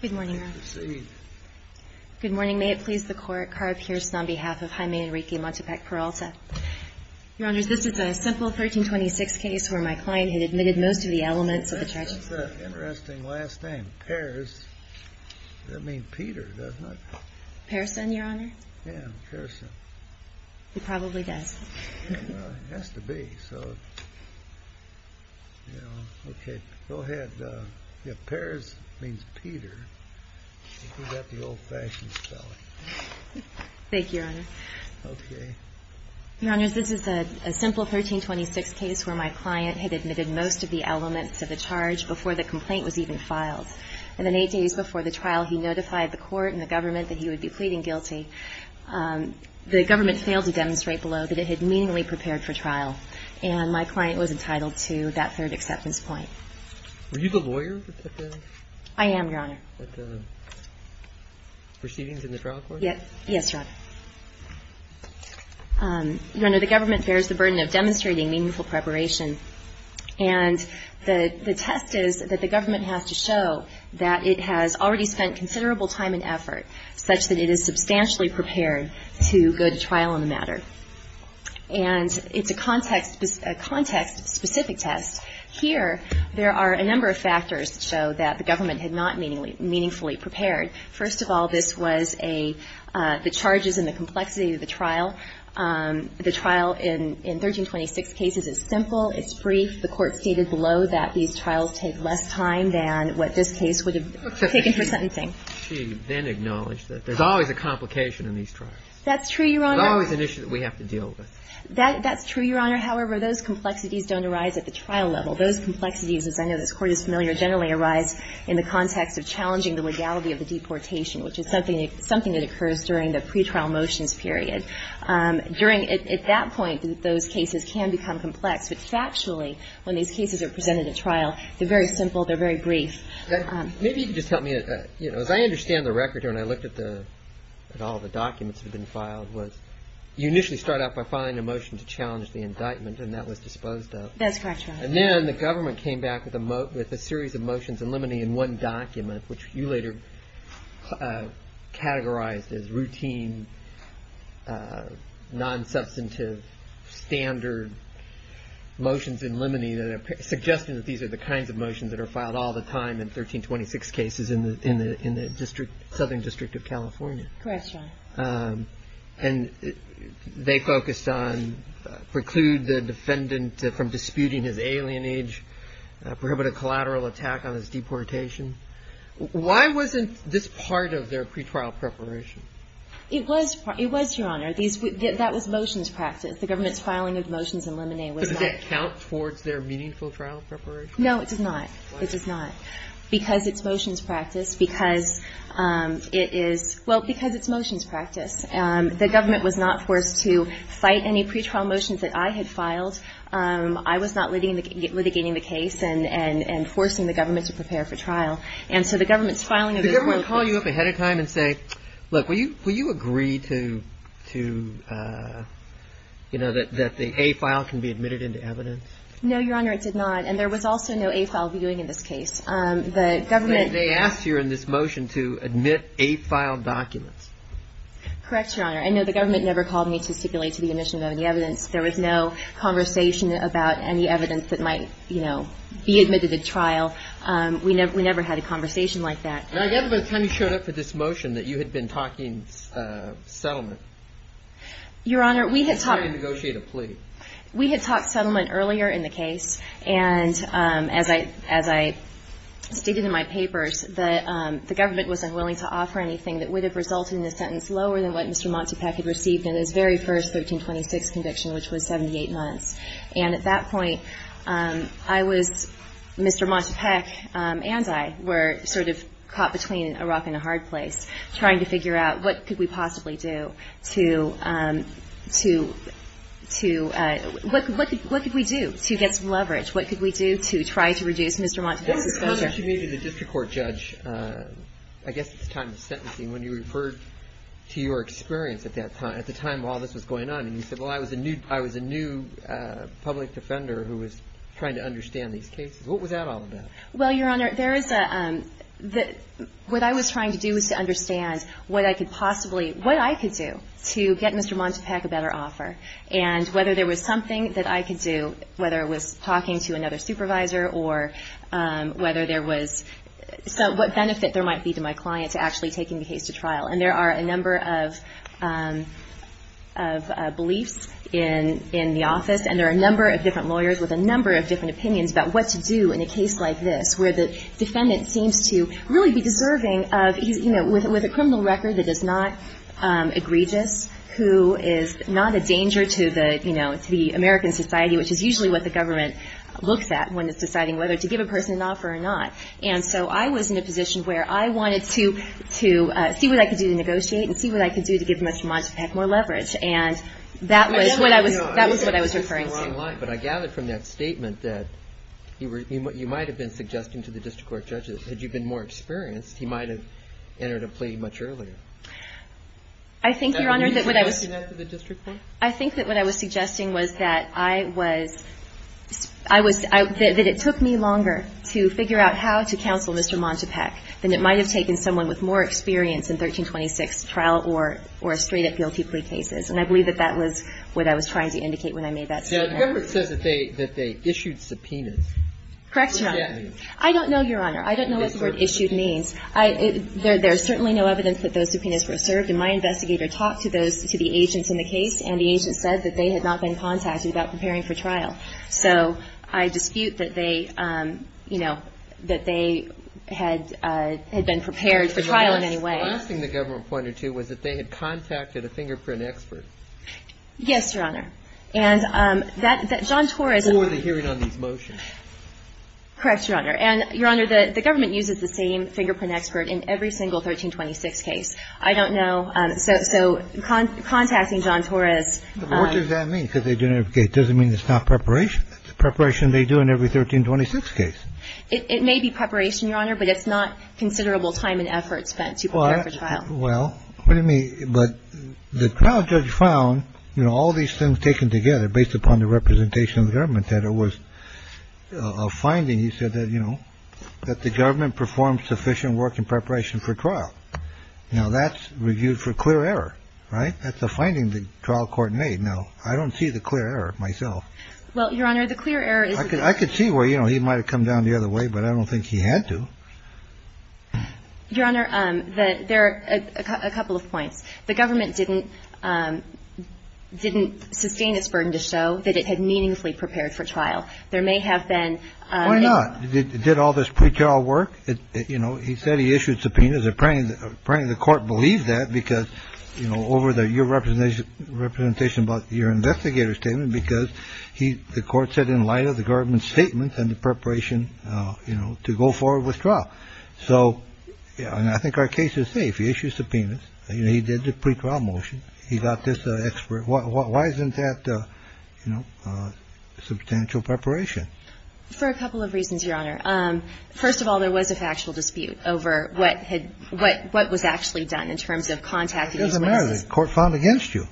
Good morning, Your Honor. Proceed. Good morning. May it please the Court, Cara Pierce on behalf of Jaime Enrique Montepeque-Peralta. Your Honor, this is a simple 1326 case where my client had admitted most of the elements of the treacherous act. That's an interesting last name, Pears. That means Peter, doesn't it? Pearson, Your Honor. Yeah, Pearson. He probably does. It has to be. Okay, go ahead. Yeah, Pears means Peter. You got the old-fashioned spelling. Thank you, Your Honor. Okay. Your Honor, this is a simple 1326 case where my client had admitted most of the elements of the charge before the complaint was even filed. And then eight days before the trial, he notified the Court and the government that he would be pleading guilty. The government failed to demonstrate below that it had meaningfully prepared for trial, and my client was entitled to that third acceptance point. Were you the lawyer that did that? I am, Your Honor. At the proceedings in the trial court? Yes, Your Honor. Your Honor, the government bears the burden of demonstrating meaningful preparation, and the test is that the government has to show that it has already spent considerable time and effort such that it is substantially prepared to go to trial on the matter. And it's a context-specific test. Here, there are a number of factors that show that the government had not meaningfully prepared. First of all, this was the charges and the complexity of the trial. The trial in 1326 cases is simple. It's brief. The Court stated below that these trials take less time than what this case would have taken for sentencing. She then acknowledged that there's always a complication in these trials. That's true, Your Honor. There's always an issue that we have to deal with. That's true, Your Honor. However, those complexities don't arise at the trial level. Those complexities, as I know this Court is familiar, generally arise in the context of challenging the legality of the deportation, which is something that occurs during the pretrial motions period. During at that point, those cases can become complex. But factually, when these cases are presented at trial, they're very simple, they're very brief. Maybe you can just help me. As I understand the record here, and I looked at all the documents that have been filed, you initially start out by filing a motion to challenge the indictment, and that was disposed of. That's correct, Your Honor. And then the government came back with a series of motions in limine in one document, which you later categorized as routine, non-substantive, standard motions in limine suggesting that these are the kinds of motions that are filed all the time in 1326 cases in the Southern District of California. Correct, Your Honor. And they focused on preclude the defendant from disputing his alienage, prohibit a collateral attack on his deportation. Why wasn't this part of their pretrial preparation? It was, Your Honor. That was motions practice. The government's filing of motions in limine was that. Does that count towards their meaningful trial preparation? No, it does not. It does not. Why not? Because it's motions practice. Because it is – well, because it's motions practice. The government was not forced to cite any pretrial motions that I had filed. I was not litigating the case and forcing the government to prepare for trial. And so the government's filing of those motions – Did the government call you up ahead of time and say, look, will you agree to, you know, that the A file can be admitted into evidence? No, Your Honor, it did not. And there was also no A file viewing in this case. The government – They asked you in this motion to admit A file documents. Correct, Your Honor. And, no, the government never called me to stipulate to the admission of any evidence. There was no conversation about any evidence that might, you know, be admitted at trial. We never had a conversation like that. Now, I gather by the time you showed up for this motion that you had been talking settlement. Your Honor, we had talked – Why did you negotiate a plea? We had talked settlement earlier in the case. And as I stated in my papers, the government was unwilling to offer anything that would have resulted in a sentence lower than what Mr. Montipec had received in his very first 1326 conviction, which was 78 months. And at that point, I was – Mr. Montipec and I were sort of caught between a rock and a hard place, trying to figure out what could we possibly do to – what could we do to get some leverage? What could we do to try to reduce Mr. Montipec's exposure? What was it, Your Honor, that you made to the district court judge, I guess at the time of sentencing, when you referred to your experience at that time, at the time all this was going on? And you said, well, I was a new public defender who was trying to understand these cases. What was that all about? Well, Your Honor, there is a – what I was trying to do was to understand what I could possibly – what I could do to get Mr. Montipec a better offer, and whether there was something that I could do, whether it was talking to another supervisor or whether there was – what benefit there might be to my client to actually taking the case to trial. And there are a number of beliefs in the office, and there are a number of different lawyers with a number of different opinions about what to do in a case like this, where the defendant seems to really be deserving of – you know, with a criminal record that is not egregious, who is not a danger to the – you know, to the American society, which is usually what the government looks at when it's deciding whether to give a person an offer or not. And so I was in a position where I wanted to see what I could do to negotiate and see what I could do to give Mr. Montipec more leverage. And that was what I was – that was what I was referring to. But I gather from that statement that you were – you might have been suggesting to the district court judges, had you been more experienced, he might have entered a plea much earlier. I think, Your Honor, that what I was – Are you suggesting that to the district court? I think that what I was suggesting was that I was – I was – that it took me longer to figure out how to counsel Mr. Montipec than it might have taken someone with more experience in 1326 trial or straight up guilty plea cases. And I believe that that was what I was trying to indicate when I made that statement. The government says that they – that they issued subpoenas. Correct, Your Honor. I don't know, Your Honor. I don't know what the word issued means. There's certainly no evidence that those subpoenas were served. And my investigator talked to those – to the agents in the case, and the agent said that they had not been contacted about preparing for trial. So I dispute that they, you know, that they had been prepared for trial in any way. The last thing the government pointed to was that they had contacted a fingerprint expert. Yes, Your Honor. And that – that John Torres – Before the hearing on these motions. Correct, Your Honor. And, Your Honor, the government uses the same fingerprint expert in every single 1326 case. I don't know. So – so contacting John Torres – What does that mean? Because they didn't – it doesn't mean it's not preparation. It's preparation they do in every 1326 case. It may be preparation, Your Honor, but it's not considerable time and effort spent to prepare for trial. Well, what do you mean? But the trial judge found, you know, all these things taken together based upon the representation of the government, that it was a finding, he said, that, you know, that the government performed sufficient work in preparation for trial. Now, that's reviewed for clear error, right? That's a finding the trial court made. Now, I don't see the clear error myself. Well, Your Honor, the clear error is – I could see where, you know, he might have come down the other way, but I don't think he had to. Your Honor, there are a couple of points. The government didn't – didn't sustain its burden to show that it had meaningfully prepared for trial. There may have been – Why not? Did all this pretrial work? You know, he said he issued subpoenas. Apparently, the court believed that because, you know, over the – your representation about your investigator statement because he – the court said in light of the government's statements and the preparation, you know, to go forward with trial. So – and I think our case is safe. He issued subpoenas. You know, he did the pretrial motion. He got this expert – why isn't that, you know, substantial preparation? For a couple of reasons, Your Honor. First of all, there was a factual dispute over what had – what was actually done in terms of contacting these witnesses. It doesn't matter. The court found against you.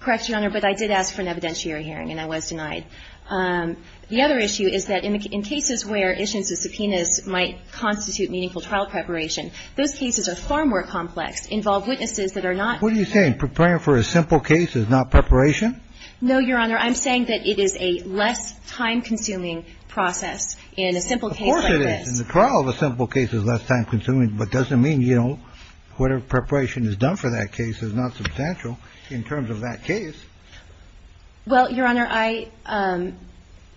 Correct, Your Honor, but I did ask for an evidentiary hearing, and I was denied. The other issue is that in cases where issuance of subpoenas might constitute meaningful trial preparation, those cases are far more complex, involve witnesses that are not – What are you saying? Preparing for a simple case is not preparation? No, Your Honor. I'm saying that it is a less time-consuming process in a simple case like this. Of course it is. In the trial, the simple case is less time-consuming, but it doesn't mean, you know, whatever preparation is done for that case is not substantial in terms of that case. Well, Your Honor, I –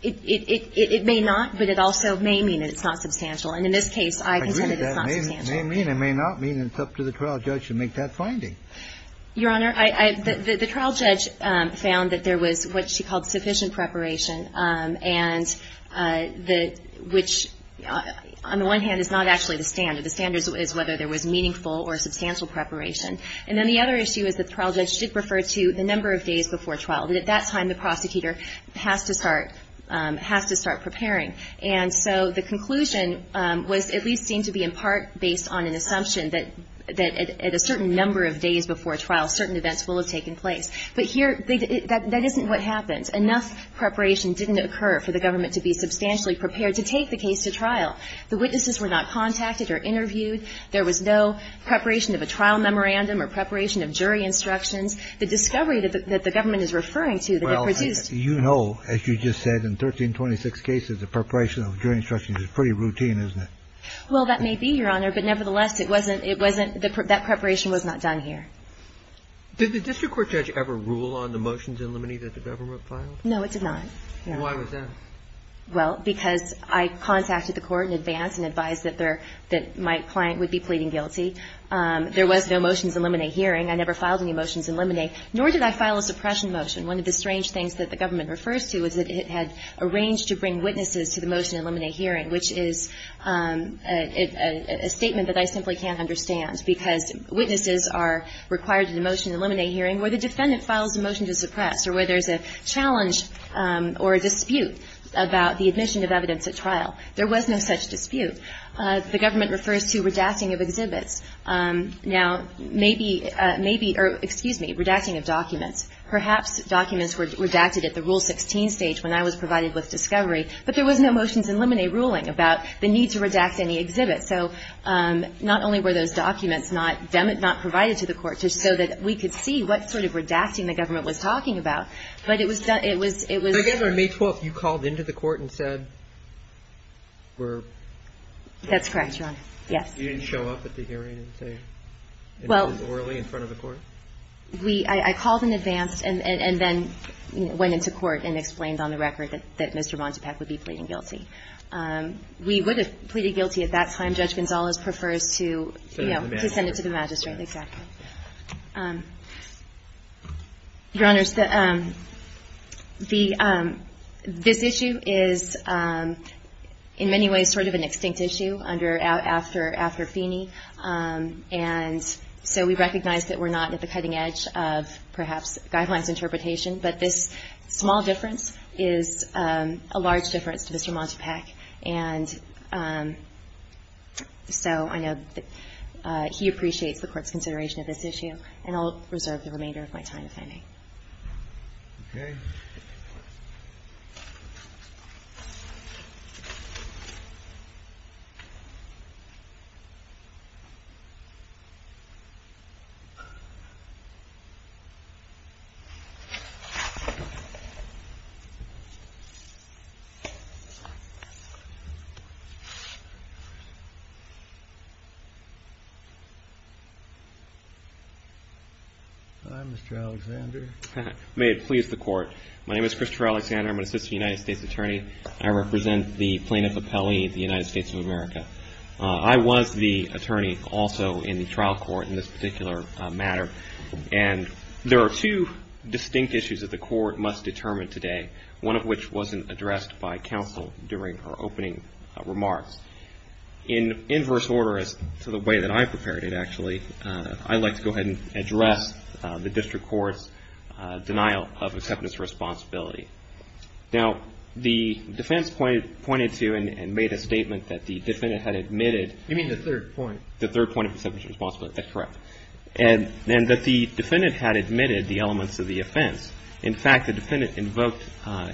it may not, but it also may mean that it's not substantial. And in this case, I contend that it's not substantial. I agree. It may mean, it may not mean. It's up to the trial judge to make that finding. Your Honor, I – the trial judge found that there was what she called sufficient preparation, and the – which on the one hand is not actually the standard. The standard is whether there was meaningful or substantial preparation. And then the other issue is that the trial judge did refer to the number of days before trial. At that time, the prosecutor has to start – has to start preparing. And so the conclusion was at least seen to be in part based on an assumption that at a certain number of days before trial, certain events will have taken place. But here, that isn't what happens. Enough preparation didn't occur for the government to be substantially prepared to take the case to trial. The witnesses were not contacted or interviewed. There was no preparation of a trial memorandum or preparation of jury instructions. The discovery that the government is referring to that it produced – Well, you know, as you just said, in 1326 cases, the preparation of jury instructions is pretty routine, isn't it? Well, that may be, Your Honor. But nevertheless, it wasn't – it wasn't – that preparation was not done here. Did the district court judge ever rule on the motions in limine that the government No, it did not. Then why was that? Well, because I contacted the court in advance and advised that there – that my client would be pleading guilty. There was no motions in limine hearing. I never filed any motions in limine, nor did I file a suppression motion. One of the strange things that the government refers to is that it had arranged to bring witnesses to the motion in limine hearing, which is a statement that I simply can't understand, because witnesses are required in a motion in limine hearing where the defendant files a motion to suppress or where there's a challenge or a dispute about the admission of evidence at trial. There was no such dispute. The government refers to redacting of exhibits. Now, maybe – maybe – or, excuse me, redacting of documents. Perhaps documents were redacted at the Rule 16 stage when I was provided with discovery, but there was no motions in limine ruling about the need to redact any exhibits. So not only were those documents not – not provided to the court just so that we could see what sort of redacting the government was talking about, but it was – it was I guess on May 12th you called into the court and said we're – That's correct, Your Honor. Yes. You didn't show up at the hearing and say it was orally in front of the court? Well, we – I called in advance and then went into court and explained on the record that Mr. Montipec would be pleading guilty. We would have pleaded guilty at that time. Judge Gonzales prefers to – To the magistrate. To send it to the magistrate. Exactly. So, Your Honors, the – this issue is in many ways sort of an extinct issue under – after Feeney, and so we recognize that we're not at the cutting edge of perhaps guidelines interpretation, but this small difference is a large difference to Mr. Montipec. And so I know that he appreciates the court's consideration of this issue, and I'll reserve the remainder of my time to Feeney. Okay. Hi, Mr. Alexander. May it please the Court. My name is Christopher Alexander. I'm an assistant United States attorney. I represent the plaintiff appellee of the United States of America. I was the attorney also in the trial court in this particular matter, and there are two distinct issues that the Court must determine today, one of which wasn't addressed by counsel during her opening statement. In inverse order to the way that I prepared it, actually, I'd like to go ahead and address the district court's denial of acceptance of responsibility. Now, the defense pointed to and made a statement that the defendant had admitted – You mean the third point. The third point of acceptance of responsibility. That's correct. And that the defendant had admitted the elements of the offense. In fact, the defendant invoked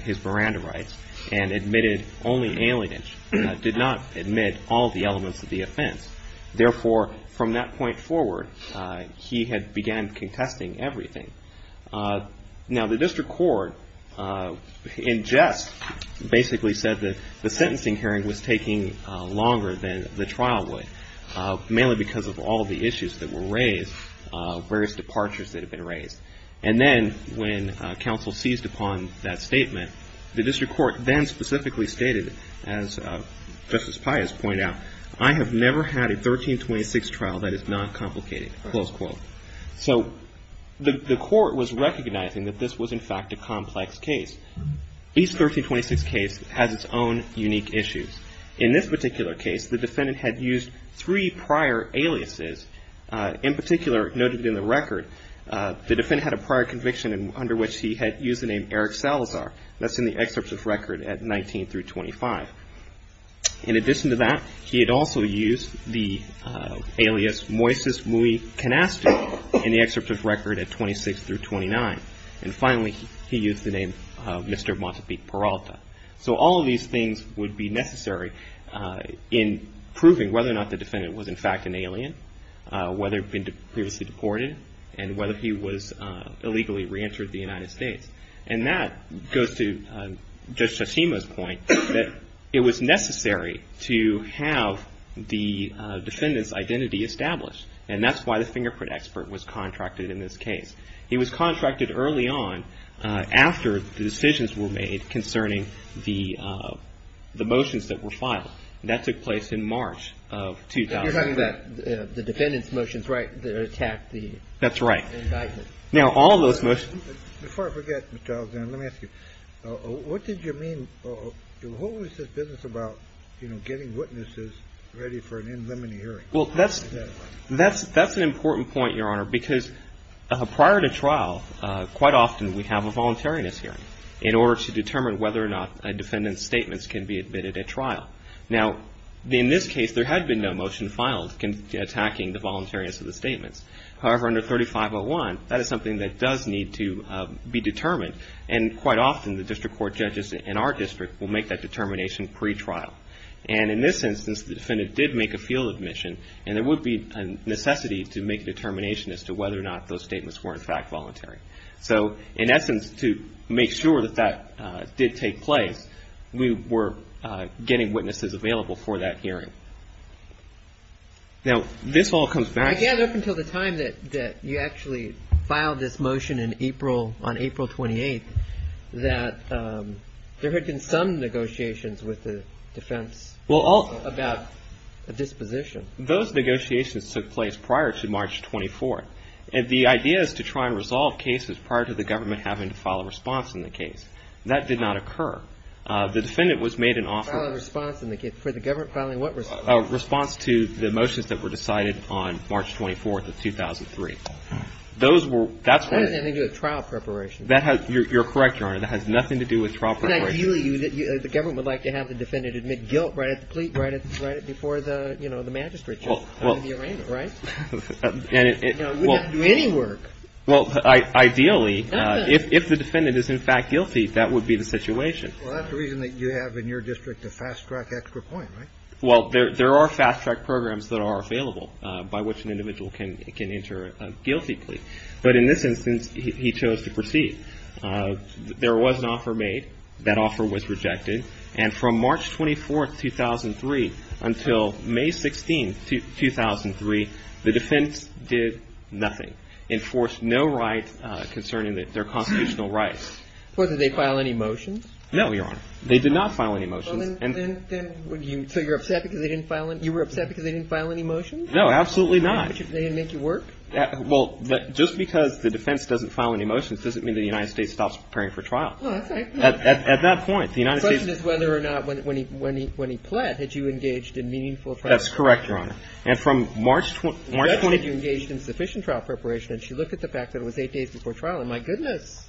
his Miranda rights and admitted only alienage, did not admit all the elements of the offense. Therefore, from that point forward, he had began contesting everything. Now, the district court, in jest, basically said that the sentencing hearing was taking longer than the trial would, mainly because of all the issues that were raised, various departures that had been raised. And then when counsel seized upon that statement, the district court then specifically stated, as Justice Pius pointed out, I have never had a 1326 trial that is not complicated, close quote. So the court was recognizing that this was, in fact, a complex case. Each 1326 case has its own unique issues. In this particular case, the defendant had used three prior aliases. In particular, noted in the record, the defendant had a prior conviction under which he had used the name Eric Salazar. That's in the excerpt of record at 19 through 25. In addition to that, he had also used the alias Moises Mui Canastu in the excerpt of record at 26 through 29. And finally, he used the name Mr. Montepique Peralta. So all of these things would be necessary in proving whether or not the defendant was, in fact, an alien. Whether he had been previously deported and whether he was illegally re-entered the United States. And that goes to Judge Chachima's point that it was necessary to have the defendant's identity established. And that's why the fingerprint expert was contracted in this case. He was contracted early on after the decisions were made concerning the motions that were filed. That took place in March of 2004. You're talking about the defendant's motions, right, that attacked the indictment. That's right. Now, all of those motions. Before I forget, Mr. Alexander, let me ask you, what did you mean? What was this business about, you know, getting witnesses ready for an in limine hearing? Well, that's an important point, Your Honor, because prior to trial, quite often we have a voluntariness hearing in order to determine whether or not a defendant's statements can be admitted at trial. Now, in this case, there had been no motion filed attacking the voluntariness of the statements. However, under 3501, that is something that does need to be determined, and quite often the district court judges in our district will make that determination pretrial. And in this instance, the defendant did make a field admission, and there would be a necessity to make a determination as to whether or not those statements were, in fact, voluntary. So, in essence, to make sure that that did take place, we were getting witnesses available for that hearing. Now, this all comes back to. I gather up until the time that you actually filed this motion in April, on April 28th, that there had been some negotiations with the defense about a disposition. Those negotiations took place prior to March 24th. The idea is to try and resolve cases prior to the government having to file a response in the case. That did not occur. The defendant was made an offer. Filing a response in the case. For the government filing what response? A response to the motions that were decided on March 24th of 2003. Those were... That has nothing to do with trial preparation. You're correct, Your Honor. That has nothing to do with trial preparation. The government would like to have the defendant admit guilt right at the plea, right before the magistrate, just under the arraignment, right? No, it wouldn't have to do any work. Well, ideally... No, but... If the defendant is in fact guilty, that would be the situation. Well, that's the reason that you have in your district a fast track extra point, right? Well, there are fast track programs that are available by which an individual can enter a guilty plea. But in this instance, he chose to proceed. There was an offer made. That offer was rejected. And from March 24th, 2003 until May 16th, 2003, the defense did nothing. Enforced no right concerning their constitutional rights. Well, did they file any motions? No, Your Honor. They did not file any motions. So you're upset because they didn't file any motions? No, absolutely not. They didn't make you work? Well, just because the defense doesn't file any motions doesn't mean the United States stops preparing for trial. Oh, that's right. At that point, the United States... The question is whether or not when he pled, had you engaged in meaningful... That's correct, Your Honor. And from March 20th... You said you engaged in sufficient trial preparation. And she looked at the fact that it was eight days before trial. And my goodness.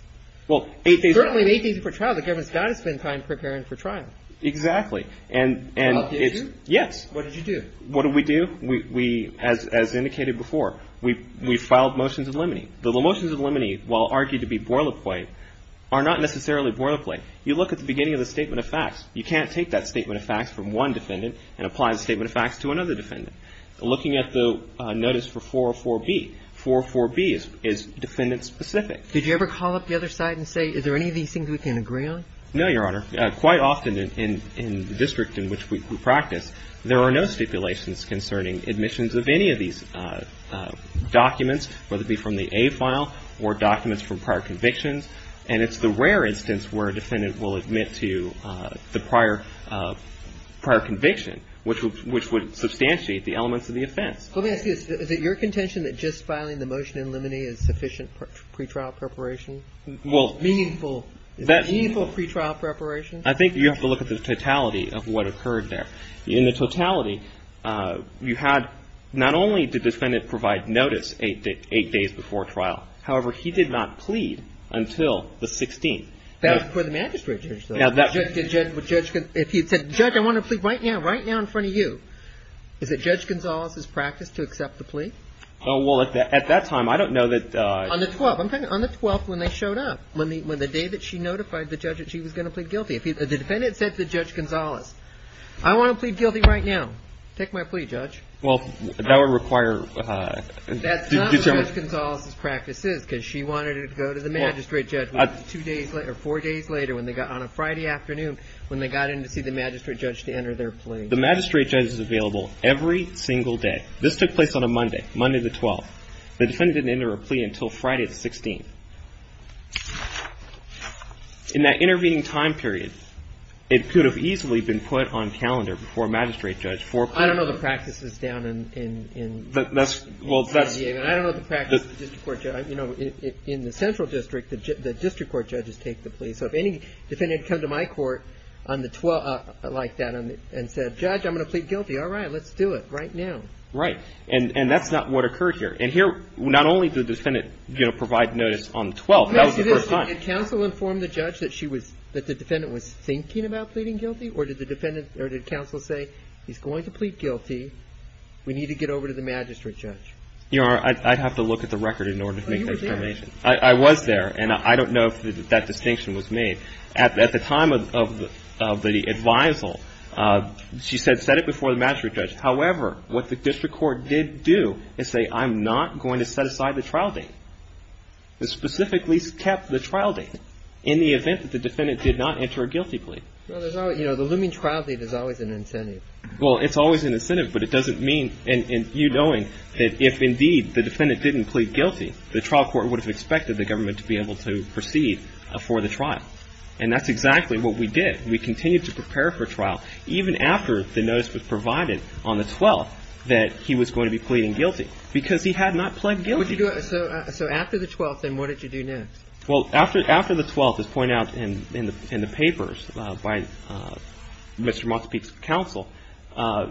Well, eight days... It's currently eight days before trial. The government's got to spend time preparing for trial. Exactly. And... Did you? What did you do? What did we do? We, as indicated before, we filed motions of limine. The motions of limine, while argued to be boilerplate, are not necessarily boilerplate. You look at the beginning of the statement of facts. You can't take that statement of facts from one defendant and apply the statement of facts to another defendant. Looking at the notice for 404B, 404B is defendant-specific. Did you ever call up the other side and say, is there any of these things we can agree on? No, Your Honor. Quite often in the district in which we practice, there are no stipulations concerning admissions of any of these documents, whether it be from the A file or documents from prior convictions. And it's the rare instance where a defendant will admit to the prior conviction, which would substantiate the elements of the offense. Let me ask you this. Is it your contention that just filing the motion in limine is sufficient pretrial preparation? Well... Meaningful. Is it meaningful pretrial preparation? I think you have to look at the totality of what occurred there. In the totality, you had not only did the defendant provide notice eight days before trial, however, he did not plead until the 16th. That was before the magistrate judge, though. If he had said, Judge, I want to plead right now, right now in front of you, is it Judge Gonzales' practice to accept the plea? Well, at that time, I don't know that... On the 12th. I'm talking on the 12th when they showed up, when the day that she notified the judge that she was going to plead guilty. The defendant said to Judge Gonzales, I want to plead guilty right now. Take my plea, Judge. Well, that would require... That's not what Judge Gonzales' practice is because she wanted to go to the magistrate judge two days later, four days later on a Friday afternoon when they got in to see the magistrate judge to enter their plea. The magistrate judge is available every single day. This took place on a Monday, Monday the 12th. The defendant didn't enter a plea until Friday the 16th. In that intervening time period, it could have easily been put on calendar before a magistrate judge for... I don't know the practices down in... Well, that's... I don't know the practice of the district court judge. In the central district, the district court judges take the plea. So if any defendant had come to my court on the 12th like that and said, Judge, I'm going to plead guilty, all right, let's do it right now. Right, and that's not what occurred here. And here, not only did the defendant provide notice on the 12th. Well, that was the first time. Let me ask you this. Did counsel inform the judge that she was, that the defendant was thinking about pleading guilty? Or did the defendant, or did counsel say, he's going to plead guilty. We need to get over to the magistrate judge. You know, I'd have to look at the record in order to make that determination. Oh, you were there. I was there, and I don't know if that distinction was made. At the time of the advisal, she said set it before the magistrate judge. However, what the district court did do is say, I'm not going to set aside the trial date. It specifically kept the trial date in the event that the defendant did not enter a guilty plea. Well, there's always, you know, the looming trial date is always an incentive. Well, it's always an incentive, but it doesn't mean, and you knowing that if indeed the defendant didn't plead guilty, the trial court would have expected the government to be able to proceed for the trial. And that's exactly what we did. We continued to prepare for trial, even after the notice was provided on the 12th that he was going to be pleading guilty, because he had not pled guilty. So after the 12th, then, what did you do next? Well, after the 12th, as pointed out in the papers by Mr. Montesquieu's counsel,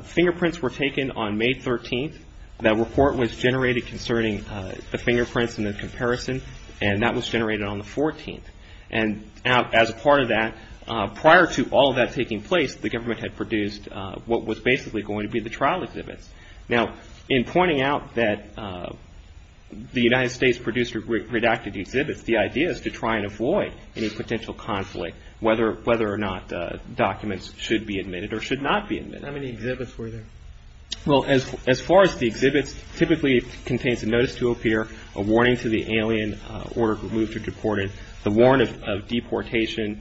fingerprints were taken on May 13th. That report was generated concerning the fingerprints and the comparison, and that was generated on the 14th. And as a part of that, prior to all of that taking place, the government had produced what was basically going to be the trial exhibits. Now, in pointing out that the United States produced redacted exhibits, the idea is to try and avoid any potential conflict, whether or not documents should be admitted or should not be admitted. How many exhibits were there? Well, as far as the exhibits, typically it contains a notice to appear, a warning to the alien, order to be removed or deported, the warrant of deportation,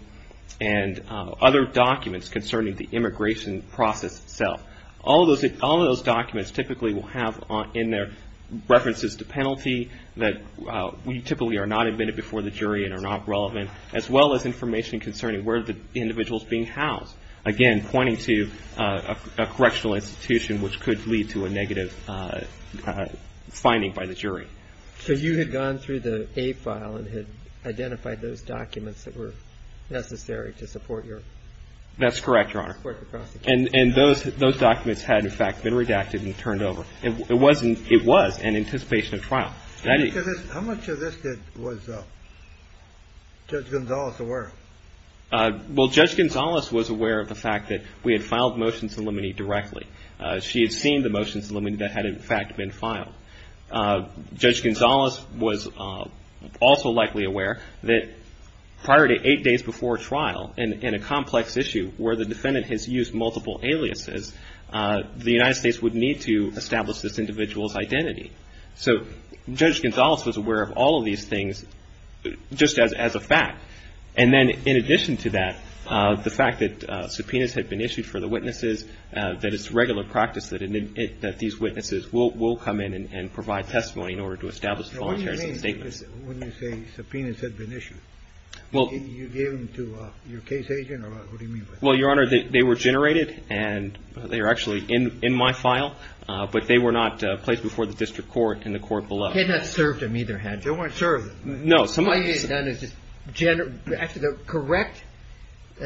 and other documents concerning the immigration process itself. All of those documents typically will have in there references to penalty that typically are not admitted before the jury and are not relevant, as well as information concerning where the individual is being housed. Again, pointing to a correctional institution, which could lead to a negative finding by the jury. So you had gone through the A file and had identified those documents that were necessary to support your... That's correct, Your Honor. ...support the prosecution. And those documents had, in fact, been redacted and turned over. It was an anticipation of trial. How much of this was Judge Gonzales aware of? Well, Judge Gonzales was aware of the fact that we had filed motions of limine directly. She had seen the motions of limine that had, in fact, been filed. Judge Gonzales was also likely aware that prior to eight days before trial in a complex issue where the defendant has used multiple aliases, the United States would need to establish this individual's identity. So Judge Gonzales was aware of all of these things just as a fact. And then in addition to that, the fact that subpoenas had been issued for the witnesses, that it's regular practice that these witnesses will come in and provide testimony in order to establish a voluntary statement. When you say subpoenas had been issued, you gave them to your case agent, or what do you mean by that? Well, Your Honor, they were generated, and they are actually in my file. But they were not placed before the district court and the court below. You had not served them either, had you? They weren't served. No, some of them... All you had done is just generate. Actually, the correct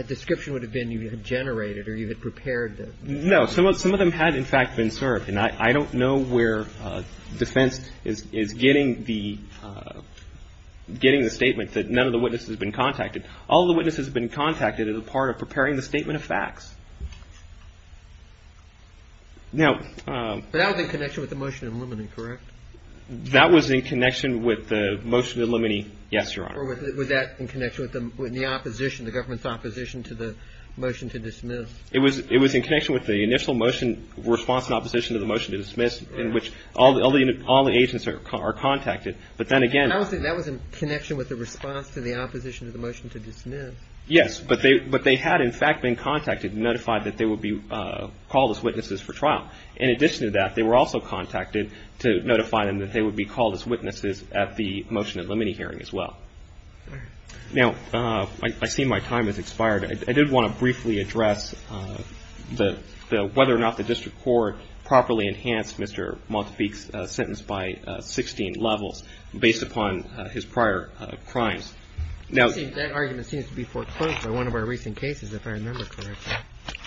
description would have been you had generated or you had prepared them. No. Some of them had, in fact, been served. And I don't know where defense is getting the statement that none of the witnesses have been contacted. All of the witnesses have been contacted as a part of preparing the statement of facts. Now... But that was in connection with the motion in limine, correct? That was in connection with the motion in limine, yes, Your Honor. Or was that in connection with the opposition, the government's opposition to the motion to dismiss? It was in connection with the initial motion, response in opposition to the motion to dismiss, in which all the agents are contacted. But then again... I don't think that was in connection with the response to the opposition to the motion to dismiss. Yes, but they had, in fact, been contacted and notified that they would be called as witnesses for trial. In addition to that, they were also contacted to notify them that they would be called as witnesses at the motion in limine hearing as well. All right. Now, I see my time has expired. I did want to briefly address whether or not the district court properly enhanced Mr. Montepique's sentence by 16 levels based upon his prior crimes. That argument seems to be foreclosed by one of our recent cases, if I remember correctly.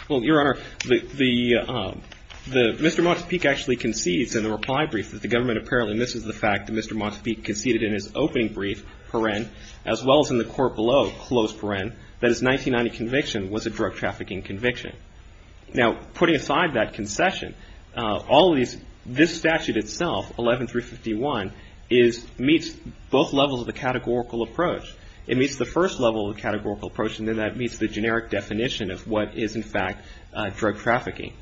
Well, Your Honor, Mr. Montepique actually concedes in the reply brief that the government apparently misses the fact that Mr. Montepique was a drug trafficking conviction. Now, putting aside that concession, this statute itself, 11351, meets both levels of the categorical approach. It meets the first level of the categorical approach, and then that meets the generic definition of what is, in fact, drug trafficking.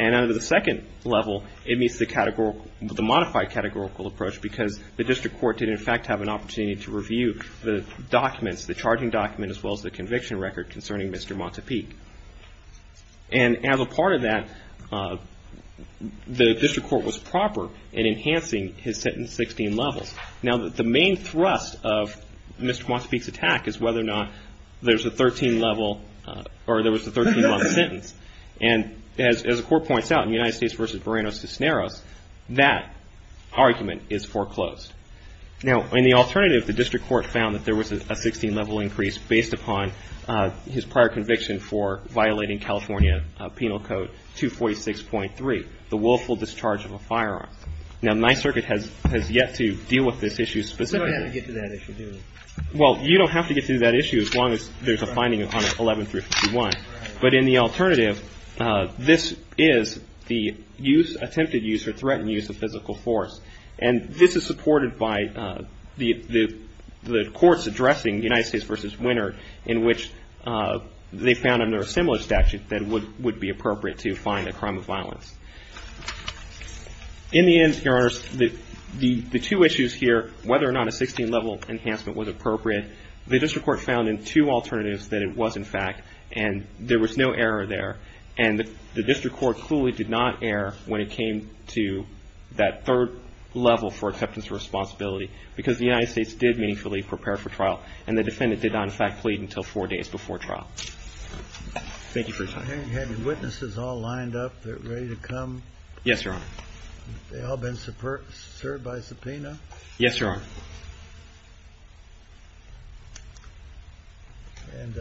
And under the second level, it meets the modified categorical approach because the district court did, in fact, have an opportunity to review the documents, the charging document as well as the conviction record concerning Mr. Montepique. And as a part of that, the district court was proper in enhancing his sentence 16 levels. Now, the main thrust of Mr. Montepique's attack is whether or not there's a 13-level or there was a 13-level sentence. And as the court points out in the United States v. Barranos-Cisneros, that argument is foreclosed. Now, in the alternative, the district court found that there was a 16-level increase based upon his prior conviction for violating California Penal Code 246.3, the willful discharge of a firearm. Now, my circuit has yet to deal with this issue specifically. Well, you don't have to get to that issue as long as there's a finding on 11351. But in the alternative, this is the use, attempted use or threatened use of physical force. And this is supported by the courts addressing the United States v. Winard, in which they found under a similar statute that it would be appropriate to find a crime of violence. In the end, Your Honors, the two issues here, whether or not a 16-level enhancement was appropriate, the district court found in two alternatives that it was, in fact, and there was no error there. And the district court clearly did not err when it came to that third level for acceptance of responsibility, because the United States did meaningfully prepare for trial. And the defendant did not, in fact, plead until four days before trial. Thank you for your time. You have your witnesses all lined up, they're ready to come? Yes, Your Honor. They've all been served by subpoena? Yes, Your Honor. And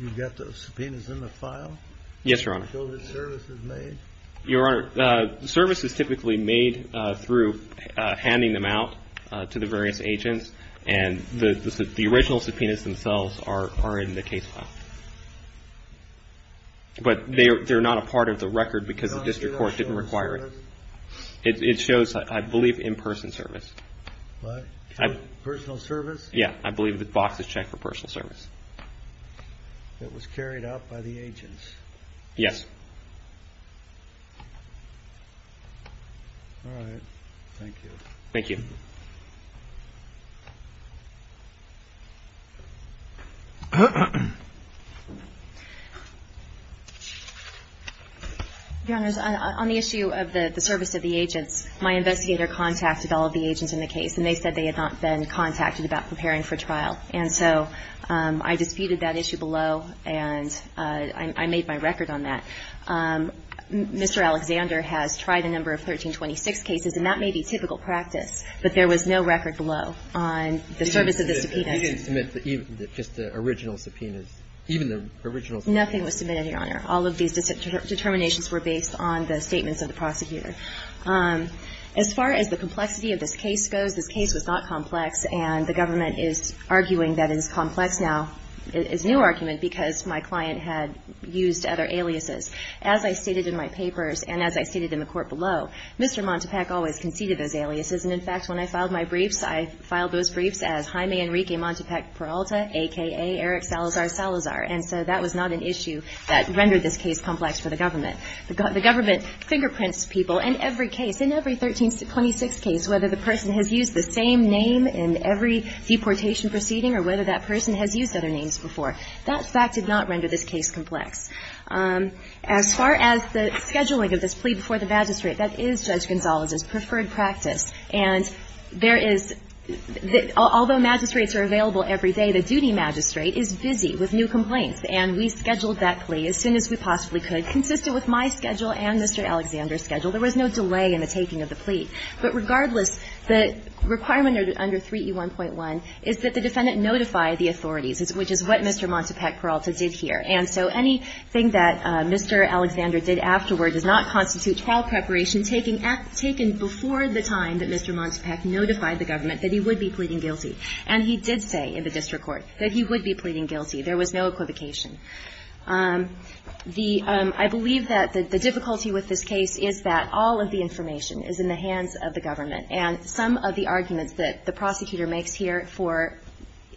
you've got the subpoenas in the file? Yes, Your Honor. Show that service is made? Your Honor, service is typically made through handing them out to the various agents, and the original subpoenas themselves are in the case file. But they're not a part of the record because the district court didn't require it. It shows, I believe, in-person service. What? Personal service? Yeah. I believe the box is checked for personal service. It was carried out by the agents? Yes. All right. Thank you. Thank you. Your Honor, on the issue of the service of the agents, my investigator contacted all of the agents in the case, and they said they had not been contacted about preparing for trial. And so I disputed that issue below, and I made my record on that. Mr. Alexander has tried a number of 1326 cases, and that may be typical practice, but there was no record below on the service of the subpoenas. You didn't submit just the original subpoenas, even the original subpoenas? Nothing was submitted, Your Honor. All of these determinations were based on the statements of the prosecutor. As far as the complexity of this case goes, this case was not complex, and the government is arguing that it is complex now. It's a new argument because my client had used other aliases. As I stated in my papers and as I stated in the court below, Mr. Montepac always conceded those aliases. And, in fact, when I filed my briefs, I filed those briefs as Jaime Enrique Montepac Peralta, a.k.a. Eric Salazar Salazar. And so that was not an issue that rendered this case complex for the government. The government fingerprints people in every case, in every 1326 case, whether the person has used the same name in every deportation proceeding or whether that person has used other names before. That fact did not render this case complex. As far as the scheduling of this plea before the magistrate, that is Judge Gonzalez's preferred practice. And there is the – although magistrates are available every day, the duty magistrate is busy with new complaints. And we scheduled that plea as soon as we possibly could, consistent with my schedule and Mr. Alexander's schedule. There was no delay in the taking of the plea. But regardless, the requirement under 3E1.1 is that the defendant notify the authorities, which is what Mr. Montepac Peralta did here. And so anything that Mr. Alexander did afterward does not constitute trial preparation taken at – taken before the time that Mr. Montepac notified the government that he would be pleading guilty. And he did say in the district court that he would be pleading guilty. There was no equivocation. The – I believe that the difficulty with this case is that all of the information is in the hands of the government. And some of the arguments that the prosecutor makes here for –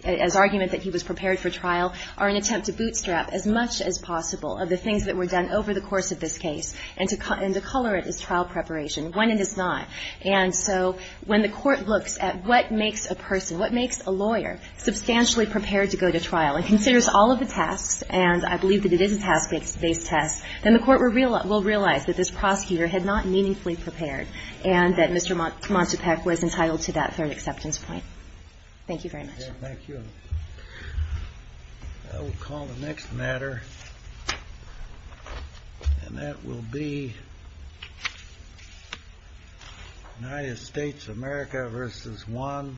as argument that he was prepared for trial are an attempt to bootstrap as much as possible of the things that were done over the course of this case, and to color it as trial preparation when it is not. And so when the Court looks at what makes a person, what makes a lawyer, substantially prepared to go to trial and considers all of the tasks, and I believe that it is a task based test, then the Court will realize that this prosecutor had not meaningfully prepared and that Mr. Montepac was entitled to that third acceptance point. Thank you very much. Thank you. I will call the next matter, and that will be United States of America versus one.